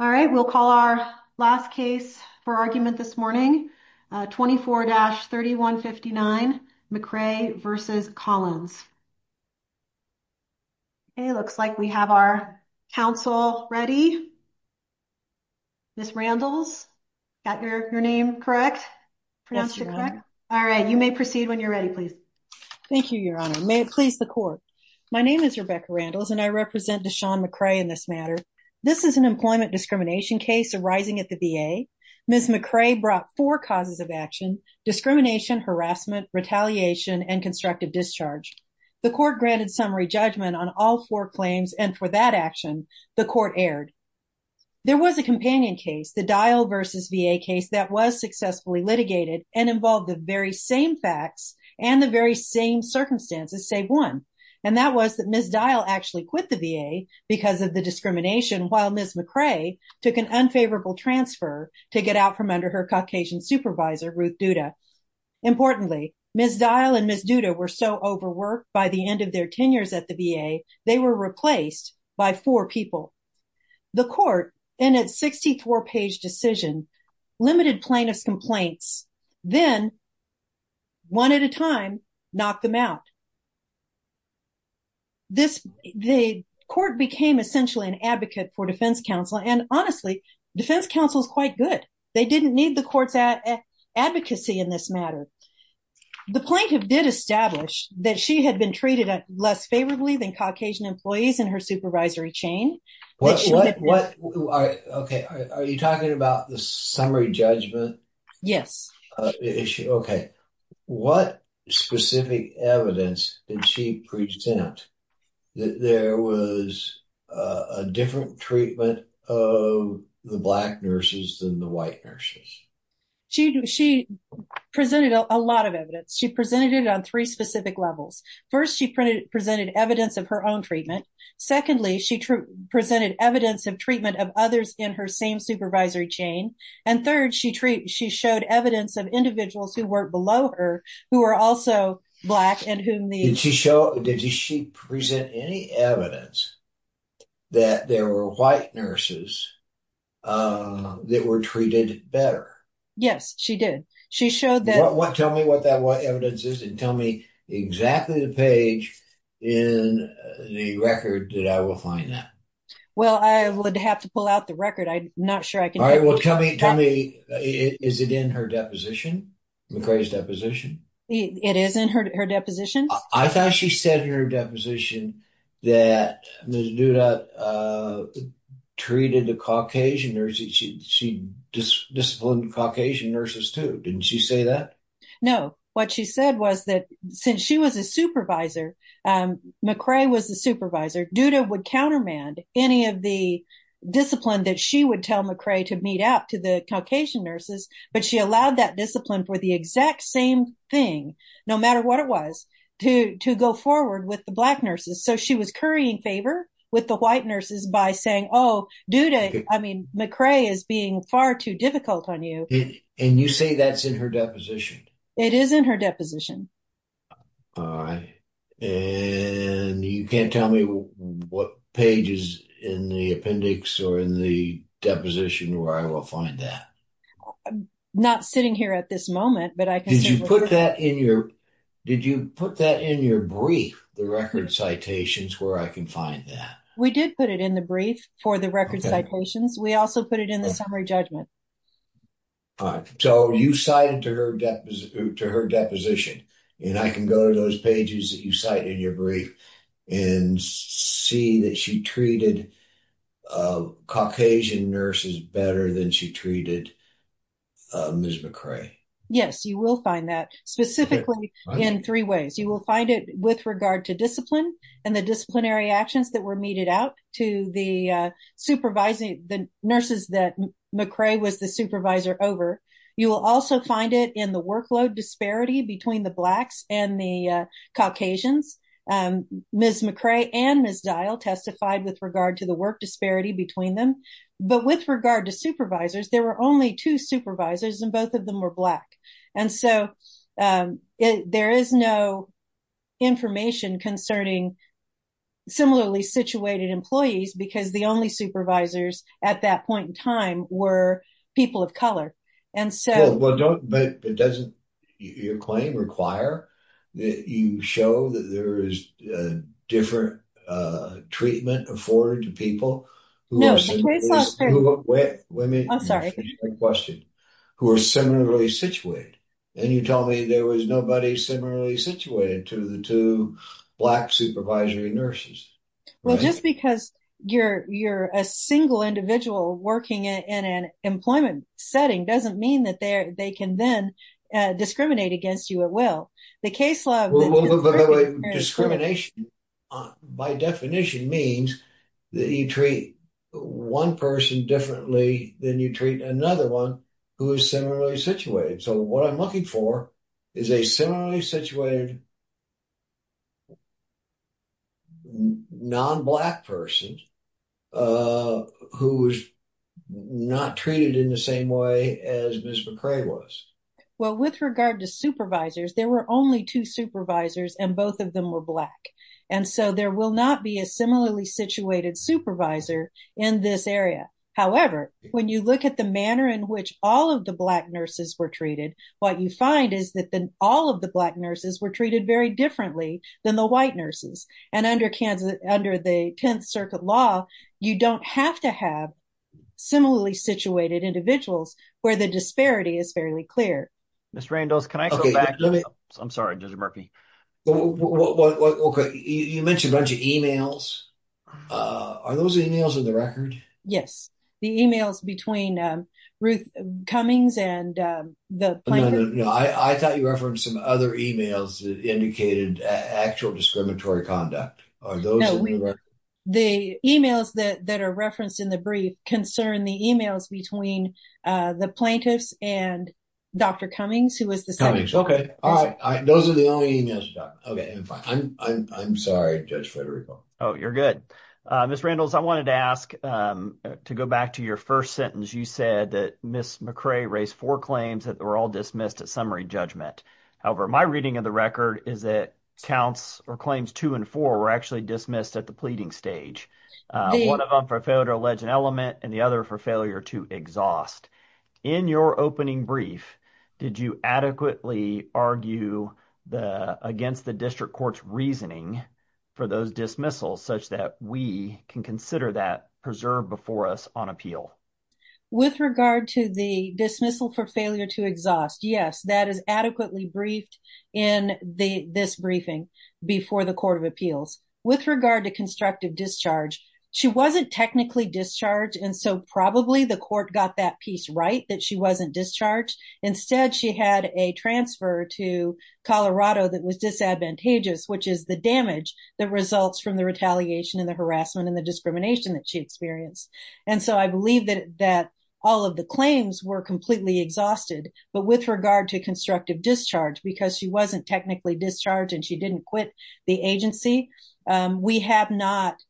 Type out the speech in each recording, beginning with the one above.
All right, we'll call our last case for argument this morning, 24-3159 McCray v. Collins. It looks like we have our counsel ready. Ms. Randles, got your name correct? Yes, Your Honor. All right, you may proceed when you're ready, please. Thank you, Your Honor. May it please the court. My name is Rebecca Randles, and I represent Deshaun McCray in this matter. This is an employment discrimination case arising at the VA. Ms. McCray brought four causes of action, discrimination, harassment, retaliation, and constructive discharge. The court granted summary judgment on all four claims, and for that action, the court erred. There was a companion case, the Dial v. VA case, that was successfully litigated and involved the very same facts and the very same circumstances, save one. And that was that Ms. Dial actually quit the VA because of the discrimination, while Ms. McCray took an unfavorable transfer to get out from under her Caucasian supervisor, Ruth Duda. Importantly, Ms. Dial and Ms. Duda were so overworked by the end of their tenures at the VA, they were replaced by four people. The court, in its 64-page decision, limited plaintiff's complaints, then, one at a time, knocked them out. The court became essentially an advocate for defense counsel, and honestly, defense counsel is quite good. They didn't need the court's advocacy in this matter. The plaintiff did establish that she had been treated less favorably than Caucasian employees in her supervisory chain. Are you talking about the summary judgment? Yes. Okay. What specific evidence did she present that there was a different treatment of the black nurses than the white nurses? She presented a lot of evidence. She presented it on three specific levels. First, she presented evidence of her own treatment. Secondly, she presented evidence of treatment of others in her same supervisory chain. And third, she showed evidence of individuals who weren't below her who were also black and whom the… Did she present any evidence that there were white nurses that were treated better? Yes, she did. She showed that… Tell me what that evidence is and tell me exactly the page in the record that I will find that. Well, I would have to pull out the record. I'm not sure I can… All right. Well, tell me, is it in her deposition, McCrae's deposition? It is in her deposition. I thought she said in her deposition that Ms. Duda treated the Caucasian nurses. She disciplined the Caucasian nurses too. Didn't she say that? No. What she said was that since she was a supervisor, McCrae was a supervisor, Duda would countermand any of the discipline that she would tell McCrae to meet up to the Caucasian nurses, but she allowed that discipline for the exact same thing, no matter what it was, to go forward with the black nurses. So she was currying favor with the white nurses by saying, oh, Duda, I mean, McCrae is being far too difficult on you. And you say that's in her deposition? It is in her deposition. All right. And you can't tell me what page is in the appendix or in the deposition where I will find that. I'm not sitting here at this moment. Did you put that in your brief, the record citations, where I can find that? We did put it in the brief for the record citations. We also put it in the summary judgment. All right. So you cited to her deposition and I can go to those pages that you cite in your brief and see that she treated Caucasian nurses better than she treated Ms. McCrae. Yes, you will find that specifically in three ways. You will find it with regard to discipline and the disciplinary actions that were meted out to the supervising the nurses that McCrae was the supervisor over. You will also find it in the workload disparity between the blacks and the Caucasians. Ms. McCrae and Ms. Dial testified with regard to the work disparity between them. But with regard to supervisors, there were only two supervisors and both of them were black. And so there is no information concerning similarly situated employees because the only supervisors at that point in time were people of color. But doesn't your claim require that you show that there is different treatment afforded to people who are similarly situated? And you tell me there was nobody similarly situated to the two black supervisory nurses. Well, just because you're you're a single individual working in an employment setting doesn't mean that they can then discriminate against you at will. The case law discrimination, by definition, means that you treat one person differently than you treat another one who is similarly situated. So what I'm looking for is a similarly situated non-black person who is not treated in the same way as Ms. McCrae was. Well, with regard to supervisors, there were only two supervisors and both of them were black. And so there will not be a similarly situated supervisor in this area. However, when you look at the manner in which all of the black nurses were treated, what you find is that all of the black nurses were treated very differently than the white nurses. And under Kansas, under the 10th Circuit law, you don't have to have similarly situated individuals where the disparity is fairly clear. Ms. Randolph, can I go back? I'm sorry, Judge Murphy. You mentioned a bunch of emails. Are those emails in the record? Yes. The emails between Ruth Cummings and the plaintiffs. No, no, no. I thought you referenced some other emails that indicated actual discriminatory conduct. Are those in the record? No. The emails that are referenced in the brief concern the emails between the plaintiffs and Dr. Cummings, who was the second. Cummings. Okay. All right. Those are the only emails. Okay. I'm sorry, Judge Federico. Oh, you're good. Ms. Randolph, I wanted to ask to go back to your first sentence. You said that Ms. McRae raised four claims that were all dismissed at summary judgment. However, my reading of the record is that counts or claims two and four were actually dismissed at the pleading stage. One of them for failure to allege an element and the other for failure to exhaust. In your opening brief, did you adequately argue against the district court's reasoning for those dismissals such that we can consider that preserved before us on appeal? With regard to the dismissal for failure to exhaust, yes, that is adequately briefed in this briefing before the court of appeals. With regard to constructive discharge, she wasn't technically discharged. And so probably the court got that piece right, that she wasn't discharged. Instead, she had a transfer to Colorado that was disadvantageous, which is the damage that results from the retaliation and the harassment and the discrimination that she experienced. And so I believe that all of the claims were completely exhausted. But with regard to constructive discharge, because she wasn't technically discharged and she didn't quit the agency, we have not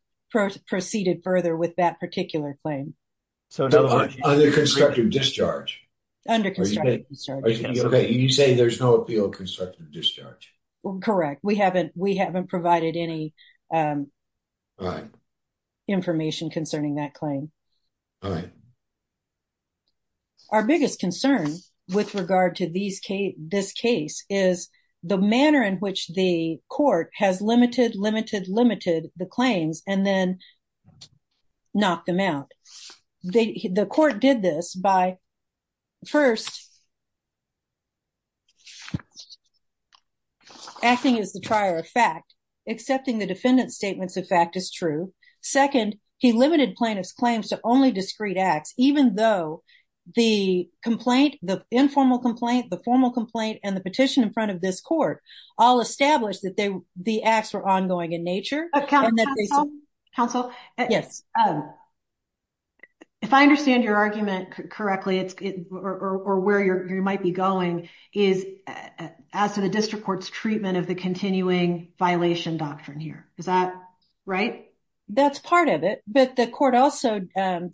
proceeded further with that particular claim. Under constructive discharge? Under constructive discharge. You say there's no appeal of constructive discharge. Correct. We haven't provided any information concerning that claim. All right. Our biggest concern with regard to this case is the manner in which the court has limited, limited, limited the claims and then knocked them out. The court did this by, first, acting as the trier of fact, accepting the defendant's statements of fact is true. Second, he limited plaintiff's claims to only discrete acts, even though the complaint, the informal complaint, the formal complaint, and the petition in front of this court all established that the acts were ongoing in nature. Counsel. Yes. If I understand your argument correctly, it's or where you might be going is as to the district court's treatment of the continuing violation doctrine here. Is that right? That's part of it. But the court also. Well,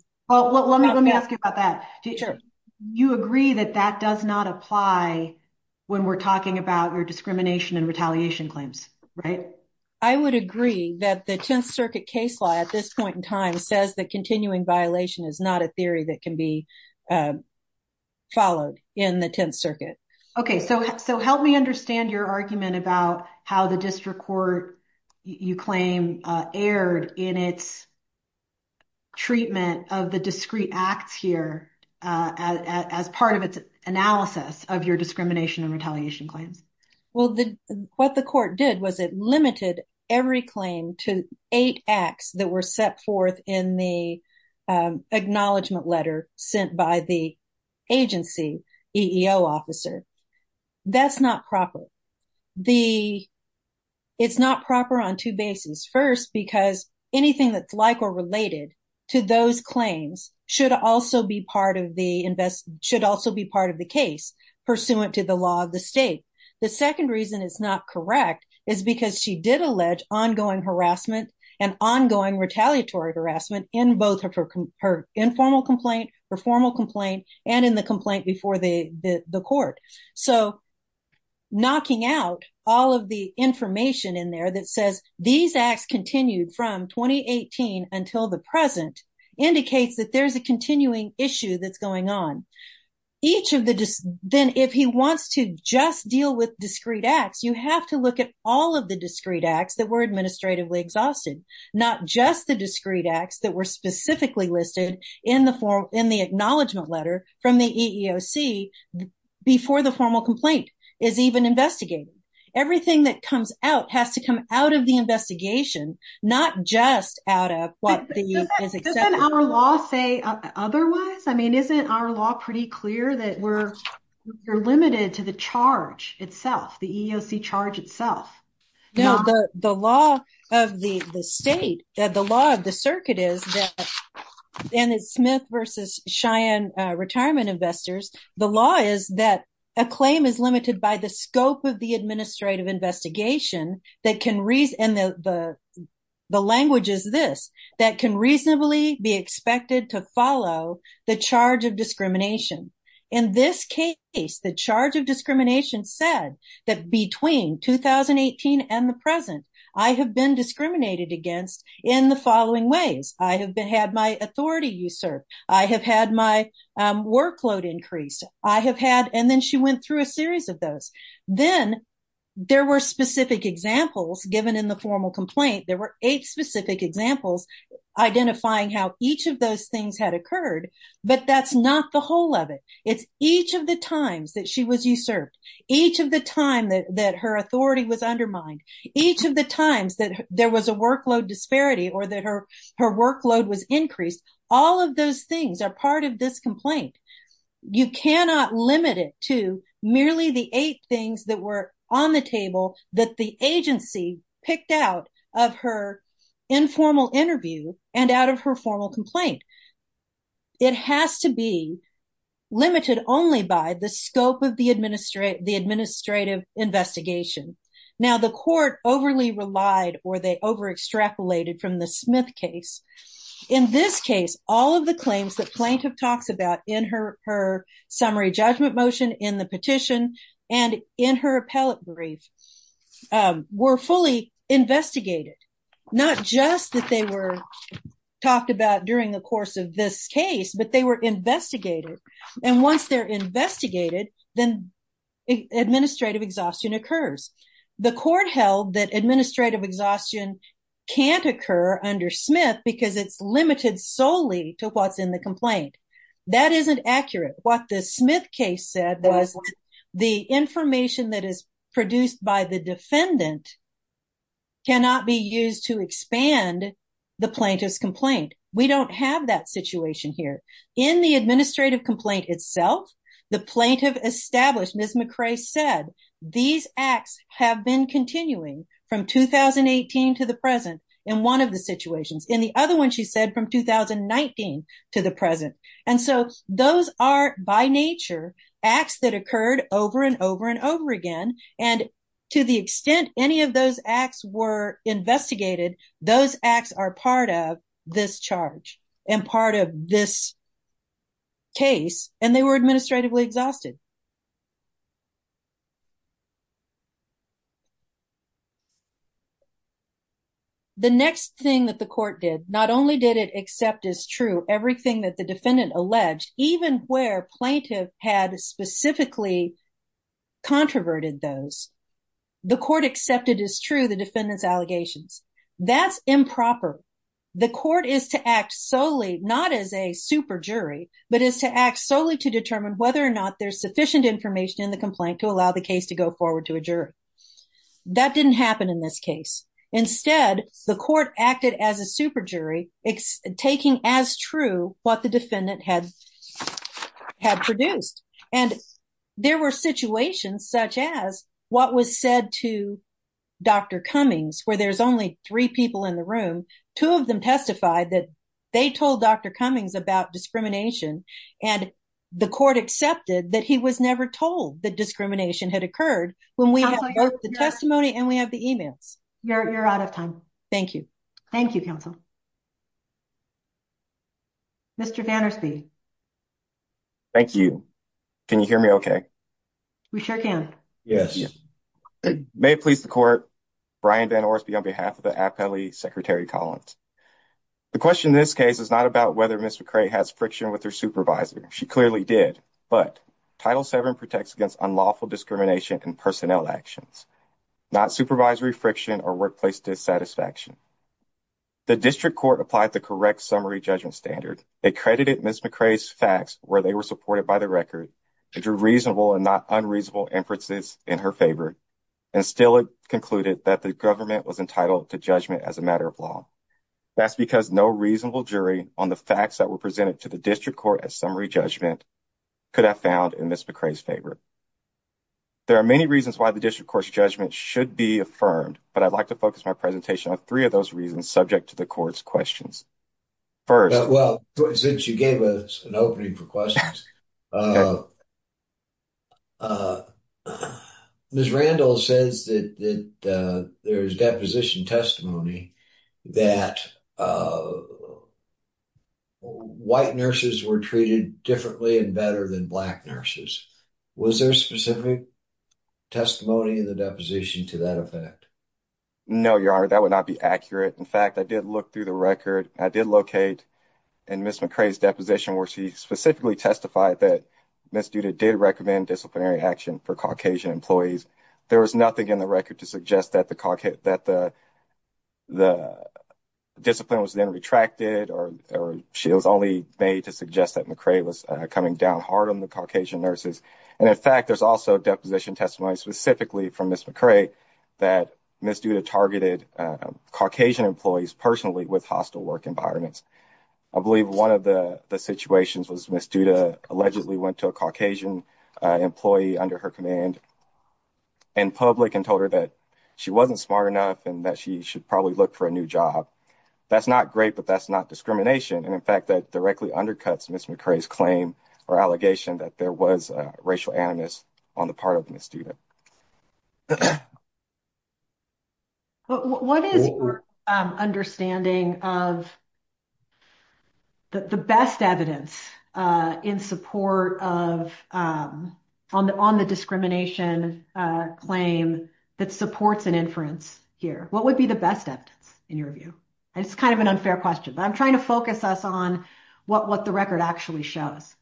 let me let me ask you about that. Do you agree that that does not apply when we're talking about your discrimination and retaliation claims? Right. I would agree that the 10th Circuit case law at this point in time says that continuing violation is not a theory that can be followed in the 10th Circuit. OK, so so help me understand your argument about how the district court you claim aired in its. Treatment of the discrete acts here as part of its analysis of your discrimination and retaliation claims. Well, what the court did was it limited every claim to eight acts that were set forth in the acknowledgement letter sent by the agency EEO officer. That's not proper. The. It's not proper on two bases. First, because anything that's like or related to those claims should also be part of the invest should also be part of the case pursuant to the law of the state. The second reason is not correct is because she did allege ongoing harassment and ongoing retaliatory harassment in both her her informal complaint, her formal complaint and in the complaint before the court. So knocking out all of the information in there that says these acts continued from 2018 until the present indicates that there's a continuing issue that's going on. Each of the then if he wants to just deal with discrete acts, you have to look at all of the discrete acts that were administratively exhausted, not just the discrete acts that were specifically listed in the form in the acknowledgement letter from the EEOC before the formal complaint is even investigated. Everything that comes out has to come out of the investigation, not just out of what the law say. Otherwise, I mean, isn't our law pretty clear that we're, we're limited to the charge itself, the EEOC charge itself. No, the law of the state that the law of the circuit is that and it's Smith versus Cheyenne retirement investors. The law is that a claim is limited by the scope of the administrative investigation that can read and the language is this, that can reasonably be expected to follow the charge of discrimination. In this case, the charge of discrimination said that between 2018 and the present, I have been discriminated against in the following ways. I have had my authority usurped. I have had my workload increased. I have had and then she went through a series of those. Then there were specific examples given in the formal complaint. There were eight specific examples, identifying how each of those things had occurred, but that's not the whole of it. It's each of the times that she was usurped each of the time that her authority was undermined each of the times that there was a workload disparity or that her workload was increased. All of those things are part of this complaint. You cannot limit it to merely the eight things that were on the table that the agency picked out of her informal interview and out of her formal complaint. It has to be limited only by the scope of the administrative investigation. Now the court overly relied or they over extrapolated from the Smith case. In this case, all of the claims that plaintiff talks about in her summary judgment motion in the petition and in her appellate brief were fully investigated. Not just that they were talked about during the course of this case, but they were investigated. And once they're investigated, then administrative exhaustion occurs. The court held that administrative exhaustion can't occur under Smith because it's limited solely to what's in the complaint. That isn't accurate. What the Smith case said was the information that is produced by the defendant cannot be used to expand the plaintiff's complaint. We don't have that situation here. In the administrative complaint itself, the plaintiff established, Ms. McRae said, these acts have been continuing from 2018 to the present in one of the situations. In the other one, she said, from 2019 to the present. And so those are by nature acts that occurred over and over and over again. And to the extent any of those acts were investigated, those acts are part of this charge and part of this case. And they were administratively exhausted. The next thing that the court did, not only did it accept as true everything that the defendant alleged, even where plaintiff had specifically controverted those, the court accepted as true the defendant's allegations. That's improper. The court is to act solely, not as a super jury, but is to act solely to determine whether or not there's sufficient information in the complaint to allow the case to go forward to a jury. That didn't happen in this case. Instead, the court acted as a super jury, taking as true what the defendant had produced. And there were situations such as what was said to Dr. Cummings, where there's only three people in the room. Two of them testified that they told Dr. Cummings about discrimination, and the court accepted that he was never told that discrimination had occurred when we have the testimony and we have the emails. You're out of time. Thank you. Thank you, counsel. Mr. Vannersby. Thank you. Can you hear me okay? We sure can. Yes. May it please the court, Brian Vannersby on behalf of the appellee, Secretary Collins. The question in this case is not about whether Ms. McCray has friction with her supervisor. She clearly did, but Title VII protects against unlawful discrimination in personnel actions, not supervisory friction or workplace dissatisfaction. The district court applied the correct summary judgment standard. They credited Ms. McCray's facts where they were supported by the record, drew reasonable and not unreasonable inferences in her favor, and still concluded that the government was entitled to judgment as a matter of law. That's because no reasonable jury on the facts that were presented to the district court as summary judgment could have found in Ms. McCray's favor. There are many reasons why the district court's judgment should be affirmed, but I'd like to focus my presentation on three of those reasons subject to the court's questions. First. Well, since you gave us an opening for questions, Ms. Randall says that there is deposition testimony that white nurses were treated differently and better than black nurses. Was there specific testimony in the deposition to that effect? No, your honor, that would not be accurate. In fact, I did look through the record. I did locate in Ms. McCray's deposition where she specifically testified that Ms. Duda did recommend disciplinary action for Caucasian employees. There was nothing in the record to suggest that the discipline was then retracted or she was only made to suggest that McCray was coming down hard on the Caucasian nurses. And in fact, there's also deposition testimony specifically from Ms. McCray that Ms. Duda targeted Caucasian employees personally with hostile work environments. I believe one of the situations was Ms. Duda allegedly went to a Caucasian employee under her command. And public and told her that she wasn't smart enough and that she should probably look for a new job. That's not great, but that's not discrimination. And in fact, that directly undercuts Ms. McCray's claim or allegation that there was racial animus on the part of Ms. Duda. But what is your understanding of the best evidence in support of on the on the discrimination claim that supports an inference here? What would be the best evidence in your view? It's kind of an unfair question, but I'm trying to focus us on what what the record actually shows.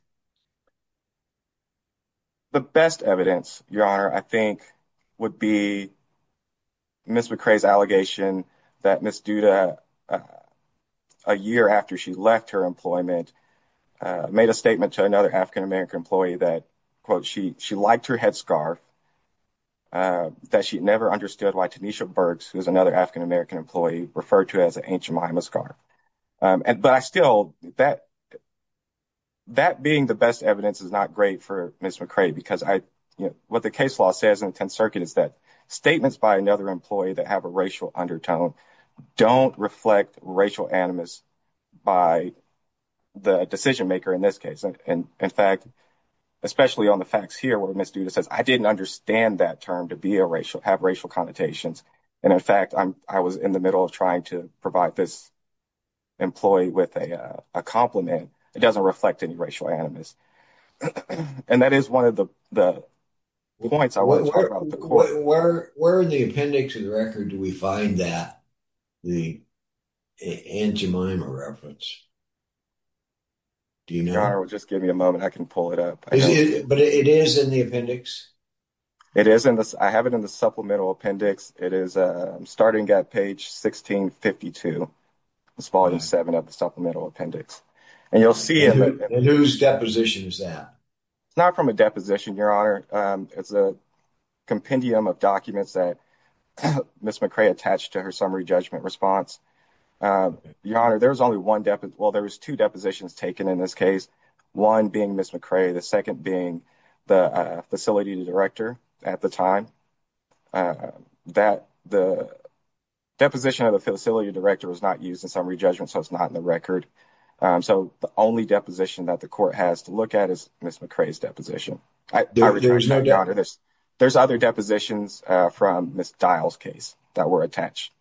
The best evidence, your honor, I think would be. Ms. McCray's allegation that Ms. Duda. A year after she left her employment, made a statement to another African-American employee that, quote, she she liked her headscarf. That she never understood why Tanisha Burks, who is another African-American employee, referred to as an ancient Miamis car. And but I still bet. That being the best evidence is not great for Ms. McCray, because I know what the case law says in the 10th Circuit is that statements by another employee that have a racial undertone don't reflect racial animus by the decision maker in this case. And in fact, especially on the facts here where Ms. Duda says, I didn't understand that term to be a racial have racial connotations. And in fact, I was in the middle of trying to provide this. Employee with a compliment. It doesn't reflect any racial animus. And that is one of the points I want to talk about the court where we're in the appendix of the record. Do we find that the. And Jemima reference. Do you know, just give me a moment. I can pull it up, but it is in the appendix. It is in this. I have it in the supplemental appendix. It is starting at page 1652. It's volume seven of the supplemental appendix, and you'll see it. Whose deposition is that? Not from a deposition, Your Honor. It's a compendium of documents that Ms. McCray attached to her summary judgment response. Your Honor, there's only one. Well, there was two depositions taken in this case. One being Ms. McCray, the second being the facility director at the time that the. Deposition of the facility director was not used in summary judgment, so it's not in the record. So the only deposition that the court has to look at is Ms. McCray's deposition. There's no doubt in this. There's other depositions from Ms. dials case that were attached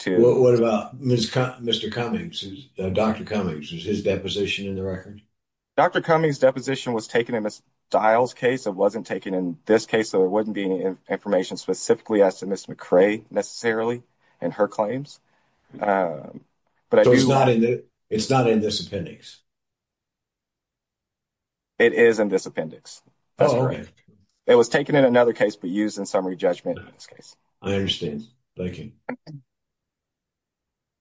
to. Mr. Cummings, Dr. Cummings, is his deposition in the record? Dr. Cummings' deposition was taken in Ms. Dial's case. It wasn't taken in this case. So there wouldn't be any information specifically as to Ms. McCray necessarily in her claims. But it's not in this appendix. It is in this appendix. It was taken in another case, but used in summary judgment in this case. I understand. Thank you.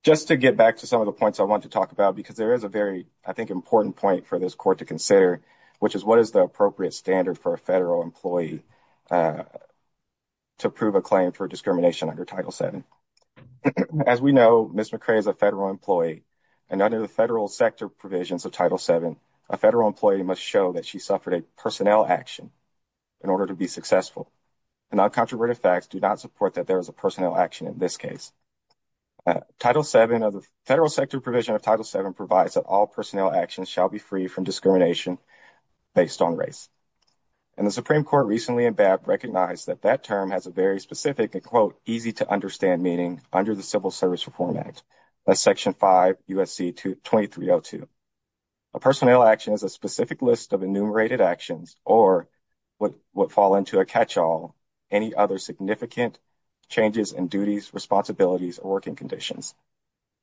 Just to get back to some of the points I want to talk about, because there is a very, I think, important point for this court to consider, which is what is the appropriate standard for a federal employee to prove a claim for discrimination under Title VII. As we know, Ms. McCray is a federal employee. And under the federal sector provisions of Title VII, a federal employee must show that she suffered a personnel action in order to be successful. And non-controverted facts do not support that there is a personnel action in this case. Title VII of the federal sector provision of Title VII provides that all personnel actions shall be free from discrimination based on race. And the Supreme Court recently recognized that that term has a very specific and, quote, easy-to-understand meaning under the Civil Service Reform Act, that's Section 5 U.S.C. 2302. A personnel action is a specific list of enumerated actions or what would fall into a catch-all, any other significant changes in duties, responsibilities, or working conditions.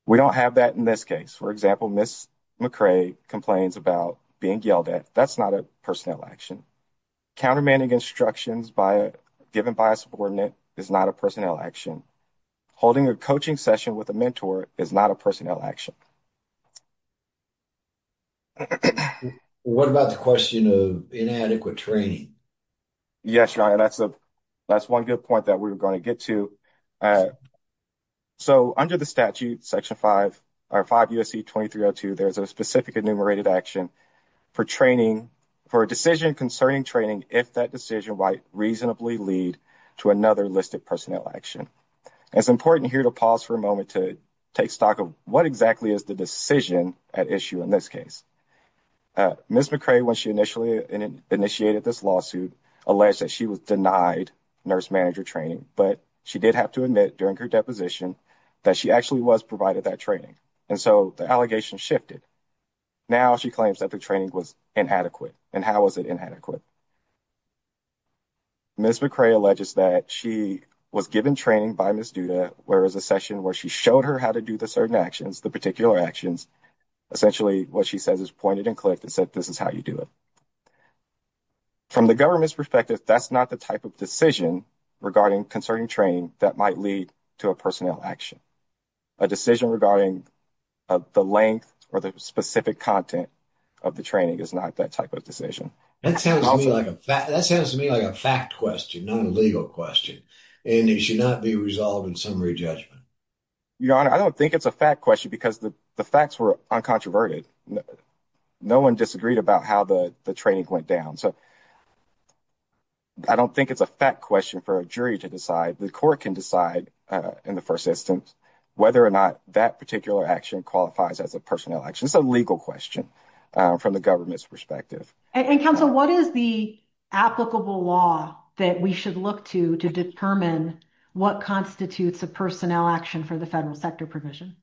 We don't have that in this case. For example, Ms. McCray complains about being yelled at. That's not a personnel action. Countermanding instructions given by a subordinate is not a personnel action. Holding a coaching session with a mentor is not a personnel action. What about the question of inadequate training? Yes, John, that's one good point that we're going to get to. So under the statute, Section 5 U.S.C. 2302, there's a specific enumerated action for training, for a decision concerning training, if that decision might reasonably lead to another listed personnel action. It's important here to pause for a moment to take stock of what exactly is the decision at issue in this case. Ms. McCray, when she initially initiated this lawsuit, alleged that she was denied nurse manager training, but she did have to admit during her deposition that she actually was provided that training. And so the allegation shifted. Now she claims that the training was inadequate. And how was it inadequate? Ms. McCray alleges that she was given training by Ms. Duda where it was a session where she showed her how to do the certain actions, the particular actions. Essentially what she says is pointed and clicked and said, this is how you do it. From the government's perspective, that's not the type of decision regarding concerning training that might lead to a personnel action. A decision regarding the length or the specific content of the training is not that type of decision. That sounds to me like a fact question, not a legal question. And it should not be resolved in summary judgment. Your Honor, I don't think it's a fact question because the facts were uncontroverted. No one disagreed about how the training went down. So I don't think it's a fact question for a jury to decide. The court can decide in the first instance whether or not that particular action qualifies as a personnel action. It's a legal question from the government's perspective. And counsel, what is the applicable law that we should look to to determine what constitutes a personnel action for the federal sector provision?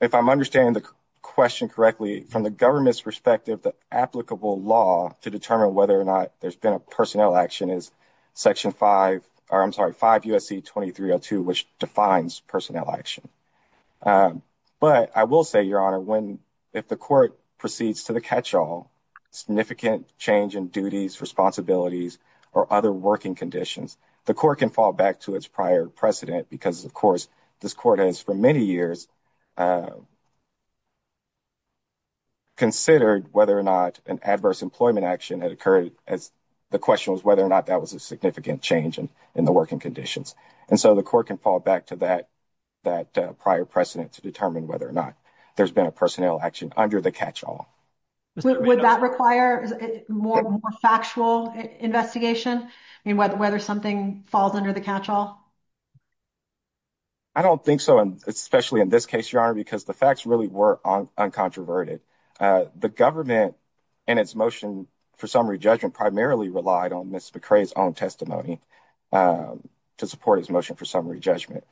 If I'm understanding the question correctly, from the government's perspective, the applicable law to determine whether or not there's been a personnel action is 5 U.S.C. 2302, which defines personnel action. But I will say, Your Honor, if the court proceeds to the catch-all, significant change in duties, responsibilities, or other working conditions, the court can fall back to its prior precedent because, of course, this court has for many years considered whether or not an adverse employment action had occurred as the question was whether or not that was a significant change in the working conditions. And so the court can fall back to that prior precedent to determine whether or not there's been a personnel action under the catch-all. Would that require more factual investigation? I mean, whether something falls under the catch-all? I don't think so, especially in this case, Your Honor, because the facts really were uncontroverted. The government and its motion for summary judgment primarily relied on Ms. McRae's own testimony to support its motion for summary judgment.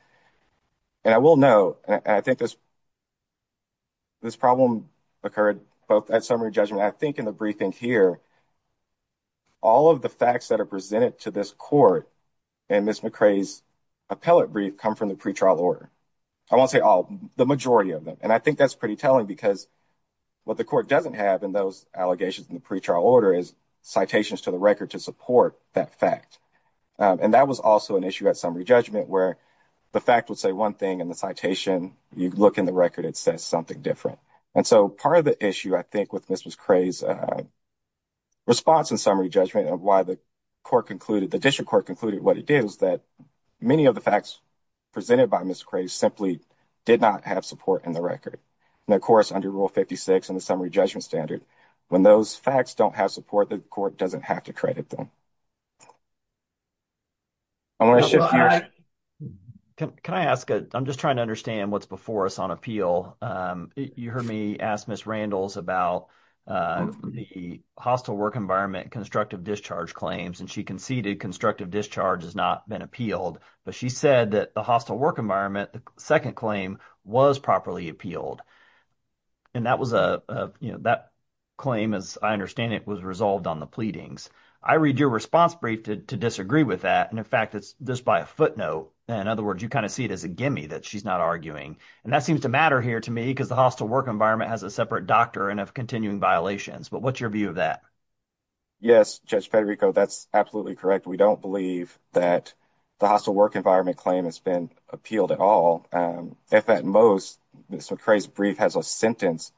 And I will note, and I think this problem occurred both at summary judgment, I think in the briefing here, all of the facts that are presented to this court in Ms. McRae's appellate brief come from the pretrial order. I won't say all, the majority of them. And I think that's pretty telling because what the court doesn't have in those allegations in the pretrial order is citations to the record to support that fact. And that was also an issue at summary judgment where the fact would say one thing and the citation, you look in the record, it says something different. And so part of the issue, I think, with Ms. McRae's response in summary judgment and why the court concluded, the district court concluded what it did is that many of the facts presented by Ms. McRae simply did not have support in the record. And of course, under Rule 56 and the summary judgment standard, when those facts don't have support, the court doesn't have to credit them. I want to shift gears. Can I ask, I'm just trying to understand what's before us on appeal. You heard me ask Ms. Randles about the hostile work environment and constructive discharge claims. And she conceded constructive discharge has not been appealed. But she said that the hostile work environment, the second claim, was properly appealed. And that was a, you know, that claim, as I understand it, was resolved on the pleadings. I read your response brief to disagree with that. And in fact, it's just by a footnote. In other words, you kind of see it as a gimme that she's not arguing. And that seems to matter here to me because the hostile work environment has a separate doctrine of continuing violations. But what's your view of that? Yes, Judge Federico, that's absolutely correct. We don't believe that the hostile work environment claim has been appealed at all. If at most, Ms. McCrae's brief has a sentence,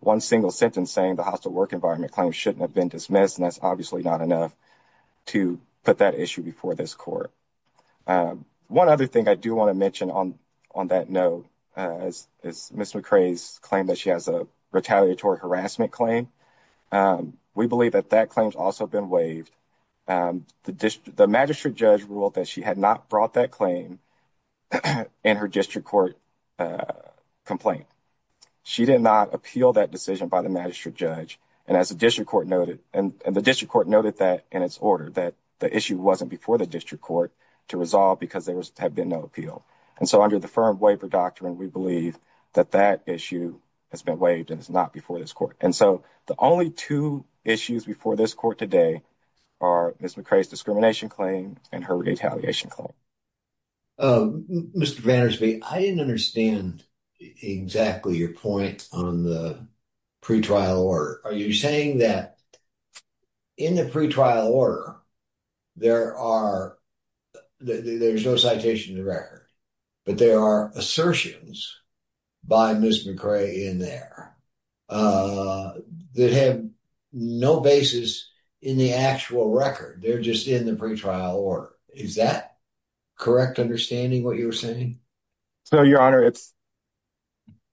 one single sentence saying the hostile work environment claim shouldn't have been dismissed, and that's obviously not enough to put that issue before this court. One other thing I do want to mention on that note is Ms. McCrae's claim that she has a retaliatory harassment claim. We believe that that claim's also been waived. The magistrate judge ruled that she had not brought that claim in her district court complaint. She did not appeal that decision by the magistrate judge. And as the district court noted, and the district court noted that in its order, that the issue wasn't before the district court to resolve because there had been no appeal. And so under the firm waiver doctrine, we believe that that issue has been waived and it's not before this court. And so the only two issues before this court today are Ms. McCrae's discrimination claim and her retaliation claim. Mr. Van Der Spee, I didn't understand exactly your point on the pretrial order. Are you saying that in the pretrial order, there are, there's no citation in the record, but there are assertions by Ms. McCrae in there that have no basis in the actual record. They're just in the pretrial order. Is that correct understanding what you're saying? So, Your Honor, it's,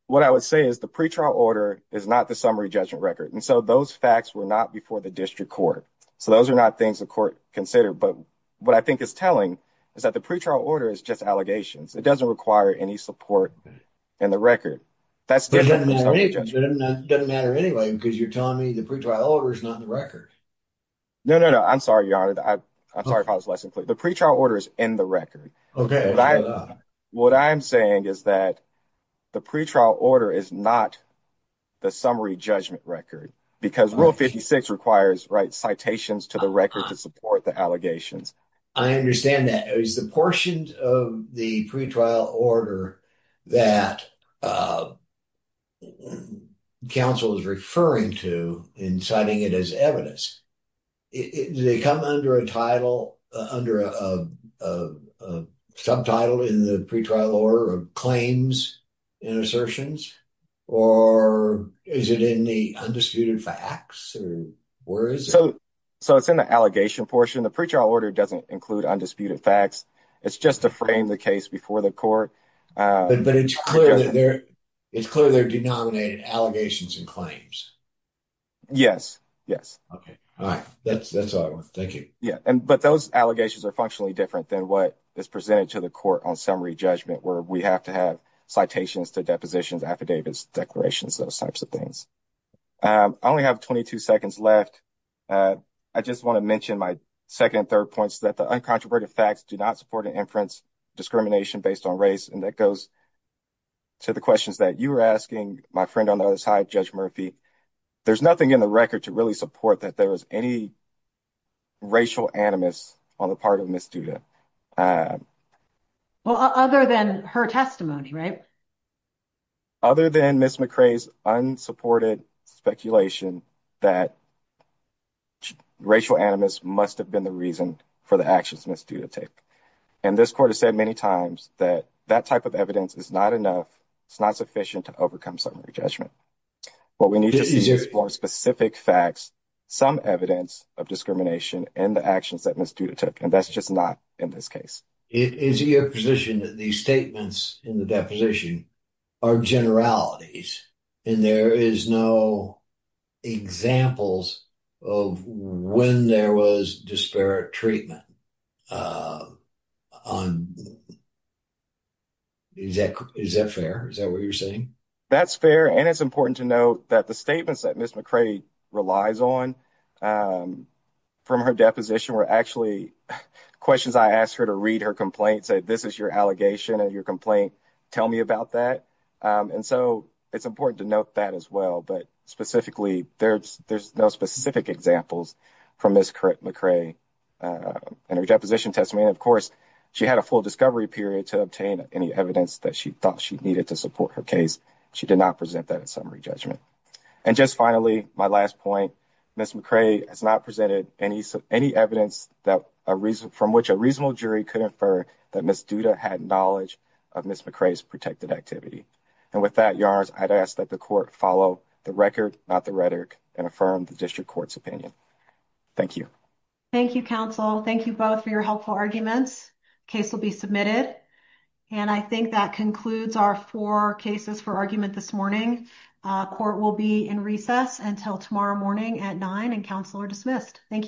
what I would say is the pretrial order is not the summary judgment record. And so those facts were not before the district court. So those are not things the court considered. But what I think it's telling is that the pretrial order is just allegations. It doesn't require any support in the record. But it doesn't matter anyway because you're telling me the pretrial order is not in the record. No, no, no. I'm sorry, Your Honor. I'm sorry if I was less than clear. The pretrial order is in the record. What I'm saying is that the pretrial order is not the summary judgment record because rule 56 requires, right, citations to the record to support the allegations. And that is the portion of the pretrial order that counsel is referring to in citing it as evidence. Does it come under a title, under a subtitle in the pretrial order of claims and assertions? Or is it in the undisputed facts? Or where is it? So it's in the allegation portion. The pretrial order doesn't include undisputed facts. It's just to frame the case before the court. But it's clear that they're, it's clear they're denominated allegations and claims. Yes, yes. Okay. All right. That's all I want. Thank you. Yeah. But those allegations are functionally different than what is presented to the court on summary judgment where we have to have citations to depositions, affidavits, declarations, those types of things. I only have 22 seconds left. I just want to mention my second and third points that the uncontroverted facts do not support an inference discrimination based on race. And that goes to the questions that you were asking my friend on the other side, Judge Murphy. There's nothing in the record to really support that there is any racial animus on the part of Ms. Duda. Well, other than her testimony, right? Other than Ms. McRae's unsupported speculation that racial animus must have been the reason for the actions Ms. Duda took. And this court has said many times that that type of evidence is not enough. It's not sufficient to overcome summary judgment. What we need to see is more specific facts, some evidence of discrimination and the actions that Ms. Duda took. And that's just not in this case. Is it your position that these statements in the deposition are generalities and there is no examples of when there was disparate treatment? Is that fair? Is that what you're saying? That's fair. And it's important to note that the statements that Ms. McRae relies on from her deposition were actually questions I asked her to read her complaint, say, this is your allegation and your complaint. Tell me about that. And so it's important to note that as well. But specifically, there's no specific examples from Ms. McRae in her deposition testimony. Of course, she had a full discovery period to obtain any evidence that she thought she needed to support her case. She did not present that in summary judgment. And just finally, my last point, Ms. McRae has not presented any evidence from which a reasonable jury could infer that Ms. Duda had knowledge of Ms. McRae's protected activity. And with that, I'd ask that the court follow the record, not the rhetoric and affirm the district court's opinion. Thank you. Thank you, counsel. Thank you both for your helpful arguments. Case will be submitted. And I think that concludes our four cases for argument this morning. Court will be in recess until tomorrow morning at nine and counsel are dismissed. Thank you.